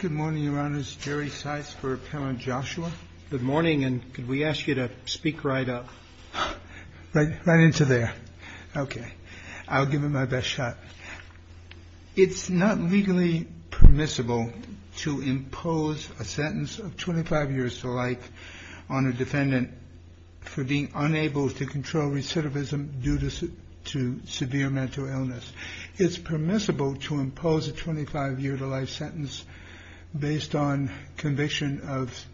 It is not legally permissible to impose a sentence of 25 years to life on a defendant for being unable to control recidivism due to severe mental illness. It is permissible to impose a 25-year-to-life sentence based on conviction of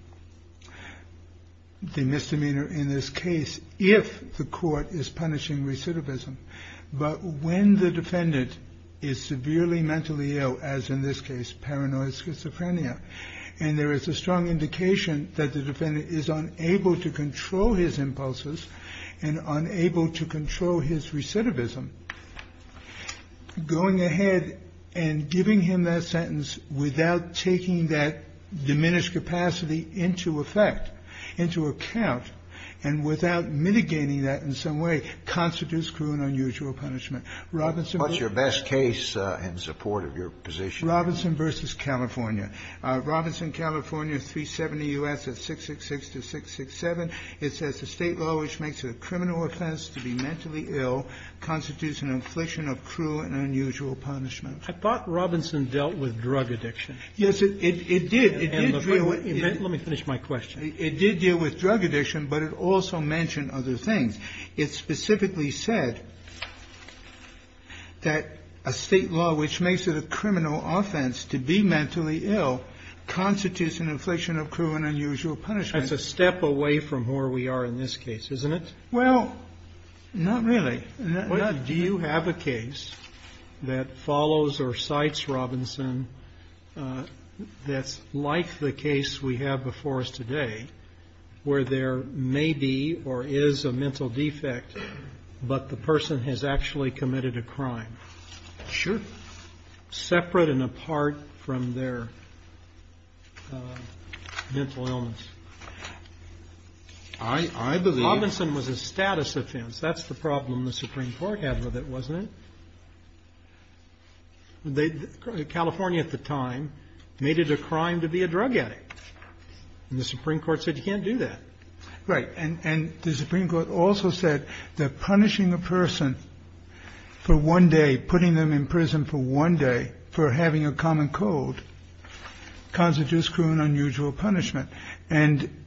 the misdemeanor in this case if the court is punishing recidivism, but when the defendant is severely mentally ill, as in this case, paranoid schizophrenia, and there is a strong indication that the defendant is unable to control his impulses and unable to control his recidivism, going ahead and giving him that sentence without taking that diminished capacity into effect, into account, and without mitigating that in some way, constitutes cruel and unusual punishment. Robertson v. California. Robertson, California, 370 U.S. at 666-667. It says the State law which makes it a criminal offense to be mentally ill constitutes an infliction of cruel and unusual punishment. Robertson dealt with drug addiction. Yes, it did. It did deal with drug addiction, but it also mentioned other things. It specifically said that a State law which makes it a criminal offense to be mentally ill constitutes an infliction of cruel and unusual punishment. That's a step away from where we are in this case, isn't it? Well, not really. Do you have a case that follows or cites Robinson that's like the case we have before us today, where there may be or is a mental defect, but the person has actually committed a crime? Sure. Separate and apart from their mental illness. I believe. Robinson was a status offense. That's the problem the Supreme Court had with it, wasn't it? California at the time made it a crime to be a drug addict. And the Supreme Court said you can't do that. Right. And the Supreme Court also said that punishing a person for one day, putting them in prison for one day for having a common code constitutes cruel and unusual punishment. And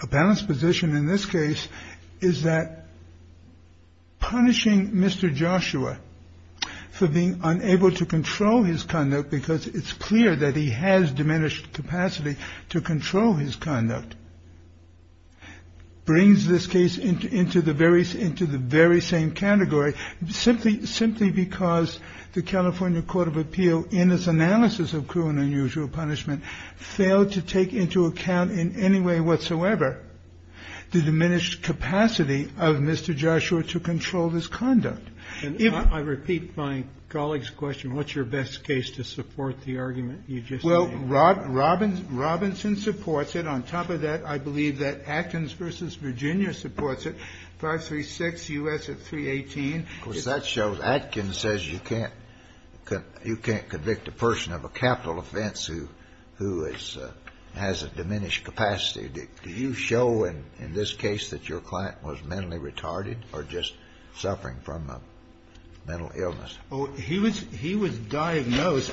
a balanced position in this case is that punishing Mr. Joshua for being unable to control his conduct because it's clear that he has diminished capacity to control his conduct. Brings this case into the very same category simply because the California Court of Appeal in its analysis of cruel and unusual punishment failed to take into account in any way whatsoever the diminished capacity of Mr. Joshua to control his conduct. And if I repeat my colleague's question, what's your best case to support the argument you just made? Well, Robinson supports it. On top of that, I believe that Atkins v. Virginia supports it, 536 U.S. at 318. Of course, that shows Atkins says you can't convict a person of a capital offense who has a diminished capacity. Do you show in this case that your client was mentally retarded or just suffering from a mental illness? He was diagnosed.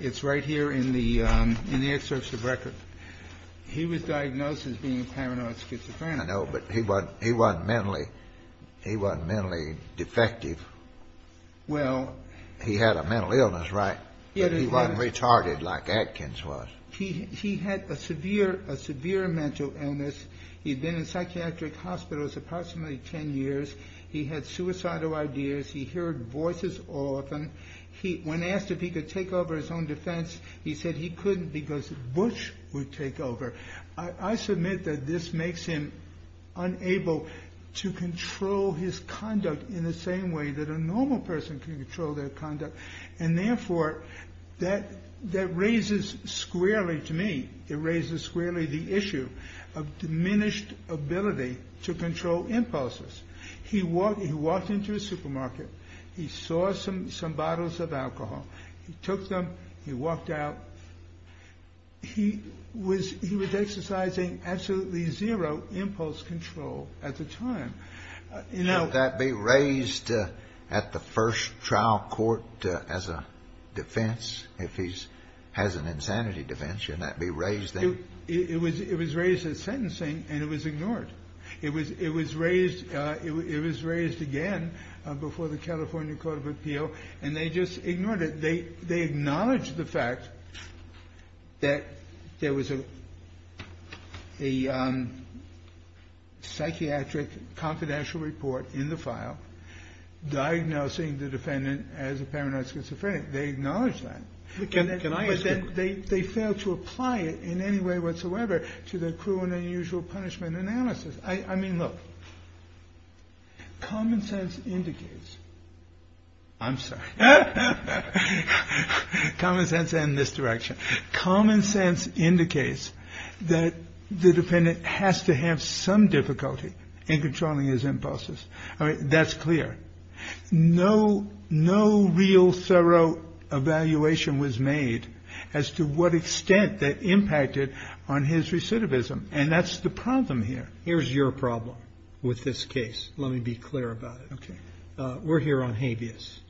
It's right here in the excerpts of the record. He was diagnosed as being paranoid schizophrenic. I know, but he wasn't mentally defective. Well, he had a mental illness, right, but he wasn't retarded like Atkins was. He had a severe mental illness. He'd been in psychiatric hospitals approximately 10 years. He had suicidal ideas. He heard voices often. When asked if he could take over his own defense, he said he couldn't because Bush would take over. I submit that this makes him unable to control his conduct in the same way that a normal person can control their conduct. And therefore, that raises squarely to me, it raises squarely the issue of diminished ability to control impulses. He walked into a supermarket. He saw some bottles of alcohol. He took them. He walked out. He was exercising absolutely zero impulse control at the time. You know, that be raised at the first trial court as a defense if he has an insanity defense, and that be raised. It was it was raised in sentencing and it was ignored. It was it was raised. It was raised again before the California Court of Appeal. And they just ignored it. They they acknowledge the fact that there was a a psychiatric confidential report in the file diagnosing the defendant as a paranoid schizophrenic. They acknowledge that they can. Can I ask that they fail to apply it in any way whatsoever to the cruel and unusual punishment analysis? I mean, look. Common sense indicates. I'm sorry, common sense in this direction, common sense indicates that the defendant has to have some difficulty in controlling his impulses. That's clear. No, no real thorough evaluation was made as to what extent that impacted on his recidivism. And that's the problem here. Here's your problem with this case. Let me be clear about it. We're here on habeas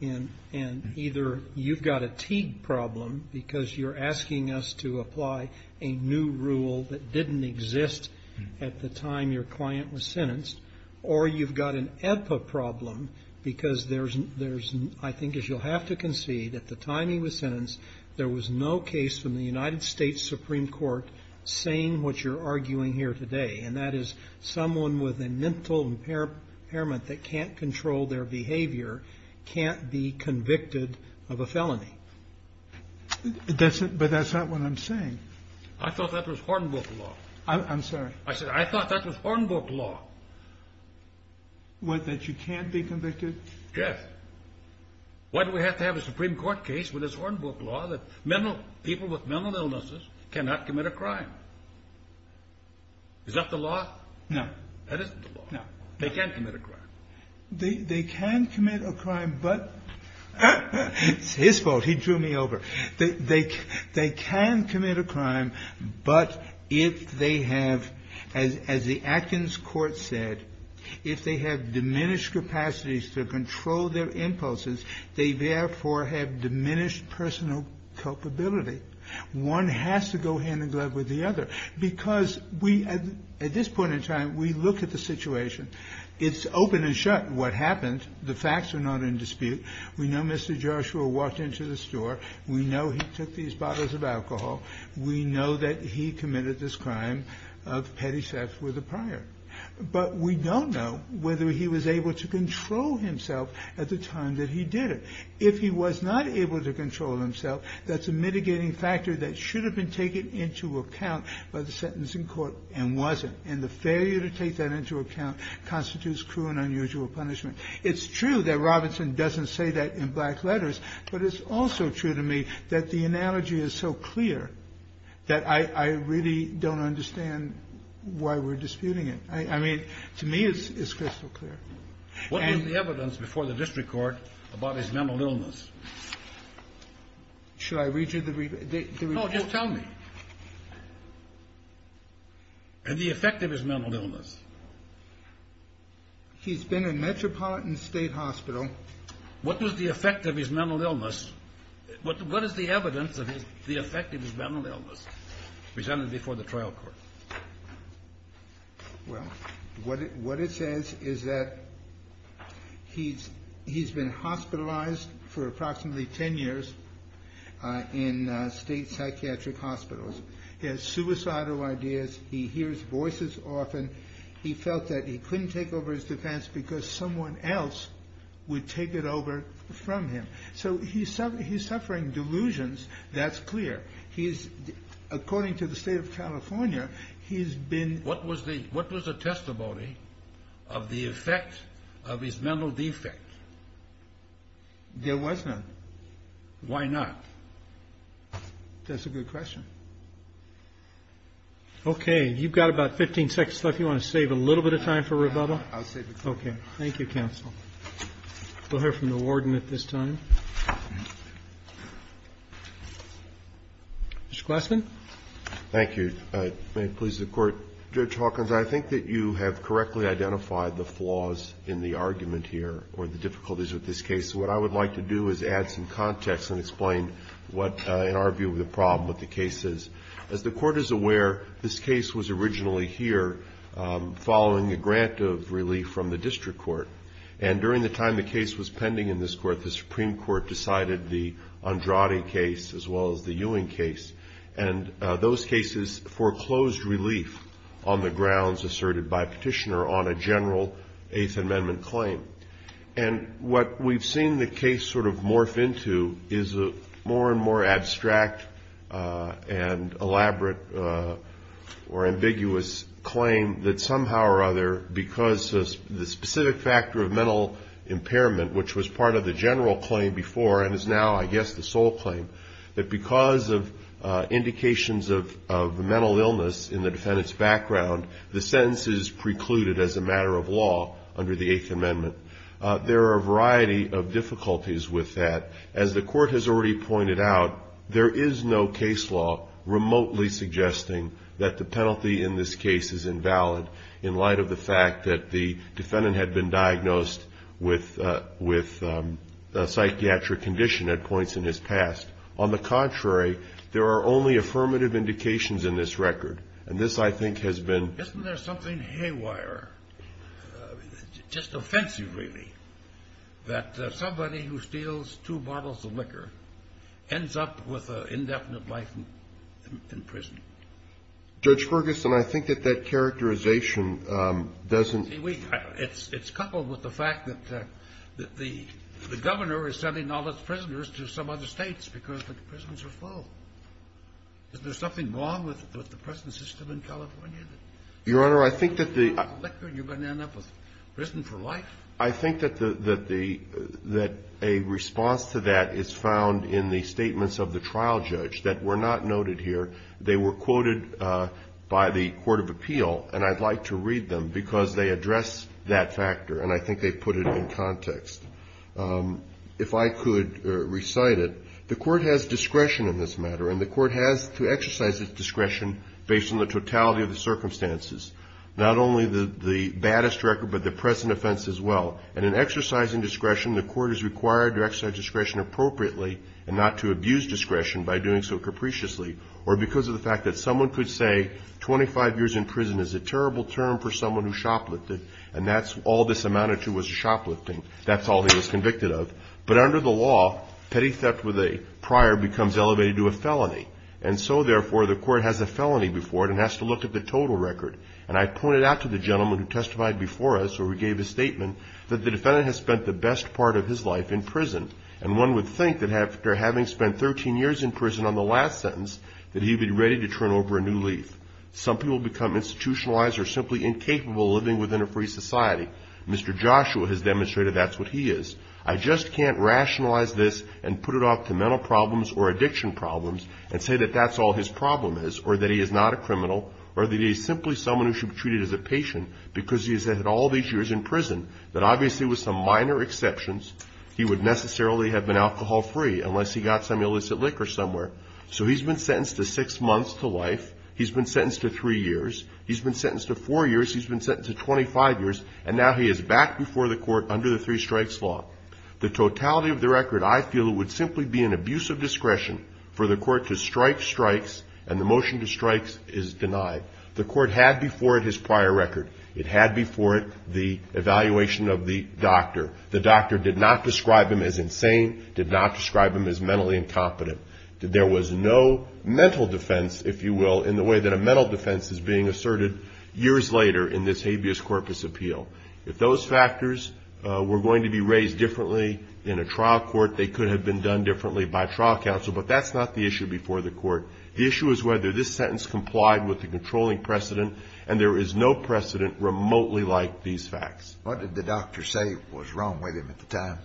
and and either you've got a Teague problem because you're asking us to apply a new rule that didn't exist at the time your client was sentenced, or you've got an EPPA problem because there's there's I think, as you'll have to concede, at the time he was sentenced, there was no case from the United States Supreme Court saying what you're arguing here today. And that is someone with a mental impairment that can't control their behavior can't be convicted of a felony. But that's not what I'm saying. I thought that was Hornbook law. I'm sorry. I said I thought that was Hornbook law. What, that you can't be convicted? Jeff, why do we have to have a Supreme Court case with this Hornbook law that mental people with mental illnesses cannot commit a crime? Is that the law? No, that isn't the law. No, they can't commit a crime. They can commit a crime, but it's his fault. He drew me over. They can commit a crime. But if they have, as the Atkins court said, if they have diminished capacities to control their impulses, they therefore have diminished personal culpability. One has to go hand in glove with the other because we, at this point in time, we look at the situation. It's open and shut what happened. The facts are not in dispute. We know Mr. Joshua walked into the store. We know he took these bottles of alcohol. We know that he committed this crime of petty theft with a prior. But we don't know whether he was able to control himself at the time that he did it. If he was not able to control himself, that's a mitigating factor that should have been taken into account by the sentencing court and wasn't. And the failure to take that into account constitutes cruel and unusual punishment. It's true that Robinson doesn't say that in black letters, but it's also true to me that the analogy is so clear that I really don't understand why we're disputing it. I mean, to me, it's crystal clear. What is the evidence before the district court about his mental illness? Should I read you the read? Oh, just tell me. And the effect of his mental illness. He's been in Metropolitan State Hospital. What was the effect of his mental illness? What is the evidence of the effect of his mental illness presented before the trial court? Well, what it says is that he's been hospitalized for approximately 10 years in state psychiatric hospitals. He has suicidal ideas. He hears voices often. He felt that he couldn't take over his defense because someone else would take it over from him. So he's suffering delusions. That's clear. He's, according to the state of California, he's been. What was the, what was the testimony of the effect of his mental defect? There was none. Why not? That's a good question. Okay. You've got about 15 seconds left. You want to save a little bit of time for rebuttal? I'll save it. Okay. Thank you, counsel. We'll hear from the warden at this time. Mr. Glassman. Thank you. May it please the court. Judge Hawkins, I think that you have correctly identified the flaws in the argument here or the difficulties with this case. What I would like to do is add some context and explain what, in our view, the problem with the case is. As the court is aware, this case was originally here following a grant of relief from the district court. And during the time the case was pending in this court, the Supreme Court decided the Andrade case, as well as the Ewing case. And those cases foreclosed relief on the grounds asserted by petitioner on a general eighth amendment claim. And what we've seen the case sort of morph into is a more and more abstract and elaborate or ambiguous claim that somehow or other, because the specific factor of mental impairment, which was part of the general claim before and is now, I guess, the sole claim, that because of indications of mental illness in the defendant's background, the sentence is precluded as a matter of law under the eighth amendment. There are a variety of difficulties with that. As the court has already pointed out, there is no case law remotely suggesting that the penalty in this case is invalid. In light of the fact that the defendant had been diagnosed with a psychiatric condition at points in his past. On the contrary, there are only affirmative indications in this record. And this, I think, has been. Isn't there something haywire, just offensive, really, that somebody who steals two bottles of liquor ends up with an indefinite life in prison? Judge Ferguson, I think that that characterization doesn't. It's coupled with the fact that the governor is sending all his prisoners to some other states because the prisons are full. Is there something wrong with the prison system in California? Your Honor, I think that the. You're going to end up with prison for life. I think that a response to that is found in the statements of the trial judge that were not noted here. They were quoted by the court of appeal. And I'd like to read them because they address that factor. And I think they put it in context. If I could recite it, the court has discretion in this matter and the court has to exercise its discretion based on the totality of the circumstances. Not only the baddest record, but the present offense as well. And in exercising discretion, the court is required to exercise discretion appropriately and not to abuse discretion by doing so capriciously. Or because of the fact that someone could say 25 years in prison is a terrible term for someone who shoplifted and that's all this amounted to was shoplifting. That's all he was convicted of. But under the law, petty theft with a prior becomes elevated to a felony. And so, therefore, the court has a felony before it and has to look at the total record. And I pointed out to the gentleman who testified before us or gave a statement that the defendant has spent the best part of his life in prison. And one would think that after having spent 13 years in prison on the last sentence, that he'd be ready to turn over a new leaf. Some people become institutionalized or simply incapable of living within a free society. Mr. Joshua has demonstrated that's what he is. I just can't rationalize this and put it off to mental problems or addiction problems and say that that's all his problem is or that he is not a criminal or that he is simply someone who should be treated as a patient because he has had all these years in prison. But obviously, with some minor exceptions, he would necessarily have been alcohol free unless he got some illicit liquor somewhere. So he's been sentenced to six months to life. He's been sentenced to three years. He's been sentenced to four years. He's been sentenced to 25 years. And now he is back before the court under the three strikes law. The totality of the record, I feel, would simply be an abuse of discretion for the court to strike strikes and the motion to strike is denied. The court had before it his prior record. It had before it the evaluation of the doctor. The doctor did not describe him as insane, did not describe him as mentally incompetent. There was no mental defense, if you will, in the way that a mental defense is being asserted years later in this habeas corpus appeal. If those factors were going to be raised differently in a trial court, they could have been done differently by trial counsel. The issue is whether this sentence complied with the controlling precedent and there is no precedent remotely like these facts. What did the doctor say was wrong with him at the time?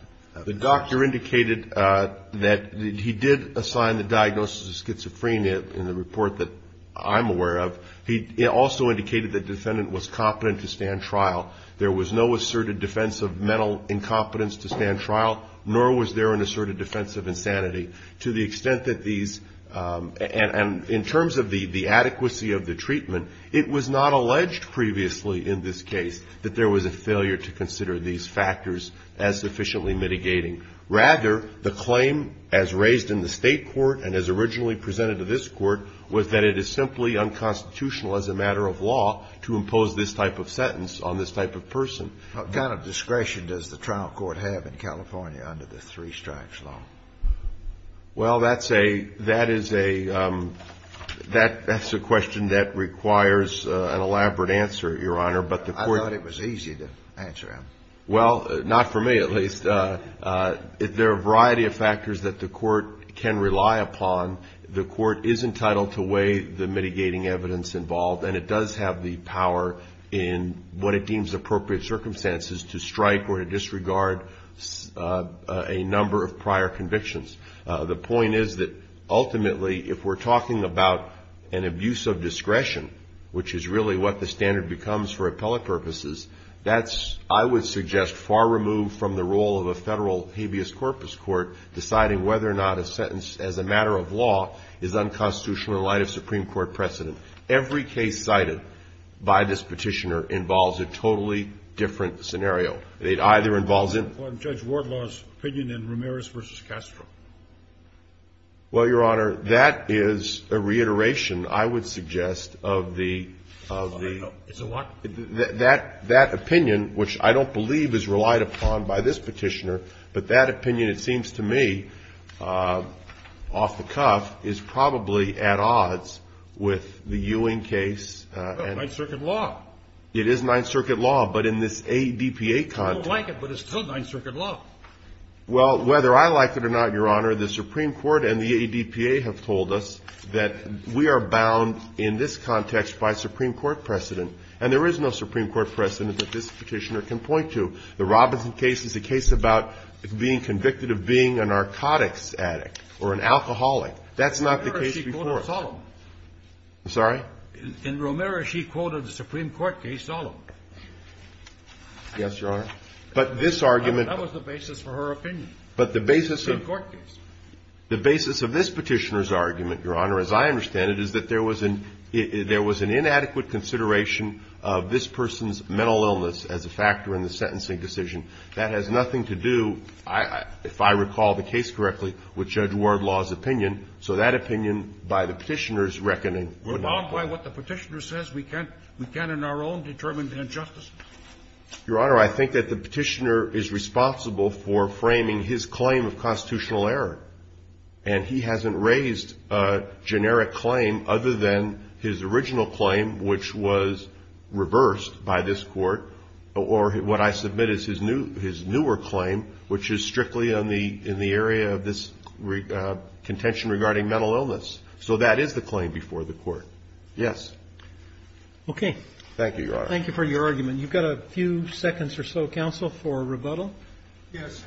The doctor indicated that he did assign the diagnosis of schizophrenia in the report that I'm aware of. He also indicated the defendant was competent to stand trial. There was no asserted defense of mental incompetence to stand trial, nor was there an asserted defense of insanity. To the extent that these, and in terms of the adequacy of the treatment, it was not alleged previously in this case that there was a failure to consider these factors as sufficiently mitigating. Rather, the claim as raised in the state court and as originally presented to this court was that it is simply unconstitutional as a matter of law to impose this type of sentence on this type of person. What kind of discretion does the trial court have in California under the three strikes law? Well, that's a, that is a, that's a question that requires an elaborate answer, Your Honor. But the court. I thought it was easy to answer him. Well, not for me, at least. If there are a variety of factors that the court can rely upon, the court is entitled to weigh the mitigating evidence involved. And it does have the power in what it deems appropriate circumstances to strike or to disregard a number of prior convictions. The point is that ultimately, if we're talking about an abuse of discretion, which is really what the standard becomes for appellate purposes, that's, I would suggest, far removed from the role of a federal habeas corpus court deciding whether or not a sentence as a matter of law is unconstitutional in light of Supreme Court precedent. Every case cited by this petitioner involves a totally different scenario. It either involves. Judge Wardlaw's opinion in Ramirez v. Castro. Well, Your Honor, that is a reiteration, I would suggest, of the, of the, that, that opinion, which I don't believe is relied upon by this petitioner, but that opinion, it seems to me, off the cuff, is probably at odds with the Ewing case. Ninth Circuit law. It is Ninth Circuit law. But in this ADPA context. I don't like it, but it's still Ninth Circuit law. Well, whether I like it or not, Your Honor, the Supreme Court and the ADPA have told us that we are bound in this context by Supreme Court precedent. And there is no Supreme Court precedent that this petitioner can point to. The Robinson case is a case about being convicted of being a narcotics addict or an alcoholic. That's not the case before us. In Ramirez, she quoted Solom. I'm sorry? In Ramirez, she quoted the Supreme Court case Solom. Yes, Your Honor. But this argument. That was the basis for her opinion. But the basis of. The Supreme Court case. The basis of this petitioner's argument, Your Honor, as I understand it, is that there was an, there was an inadequate consideration of this person's mental illness as a factor in the sentencing decision. That has nothing to do, if I recall the case correctly, with Judge Wardlaw's opinion. So that opinion, by the petitioner's reckoning, would not apply. What the petitioner says, we can't, we can't in our own determined injustice. Your Honor, I think that the petitioner is responsible for framing his claim of constitutional error. And he hasn't raised a generic claim other than his original claim, which was reversed by this court. Or what I submit is his new, his newer claim, which is strictly on the, in the area of this contention regarding mental illness. So that is the claim before the court. Yes. Okay. Thank you, Your Honor. Thank you for your argument. You've got a few seconds or so, counsel, for rebuttal. Yes.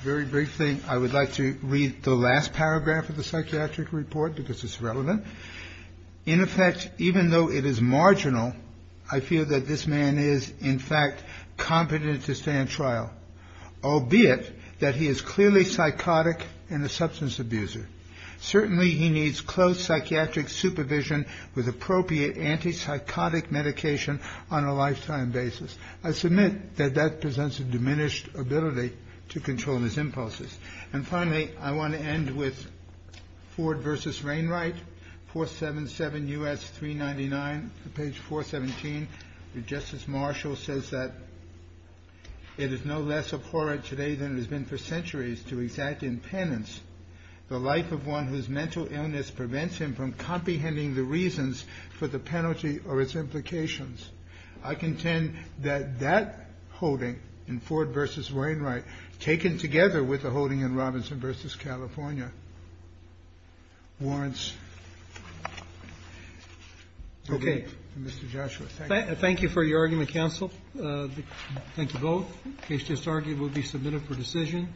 Very briefly, I would like to read the last paragraph of the psychiatric report because it's relevant. In effect, even though it is marginal, I feel that this man is in fact competent to stand trial, albeit that he is clearly psychotic and a substance abuser. Certainly he needs close psychiatric supervision with appropriate anti-psychotic medication on a lifetime basis. I submit that that presents a diminished ability to control his impulses. And finally, I want to end with Ford v. Rainwright, 477 U.S. 399, page 417. Justice Marshall says that it is no less abhorrent today than it has been for centuries to exact impendence. The life of one whose mental illness prevents him from comprehending the reasons for the penalty or its implications. I contend that that holding in Ford v. Rainwright, taken together with the holding in Robinson v. California, warrants. Okay. Mr. Joshua, thank you. Thank you for your argument, counsel. Thank you both. The case just argued will be submitted for decision.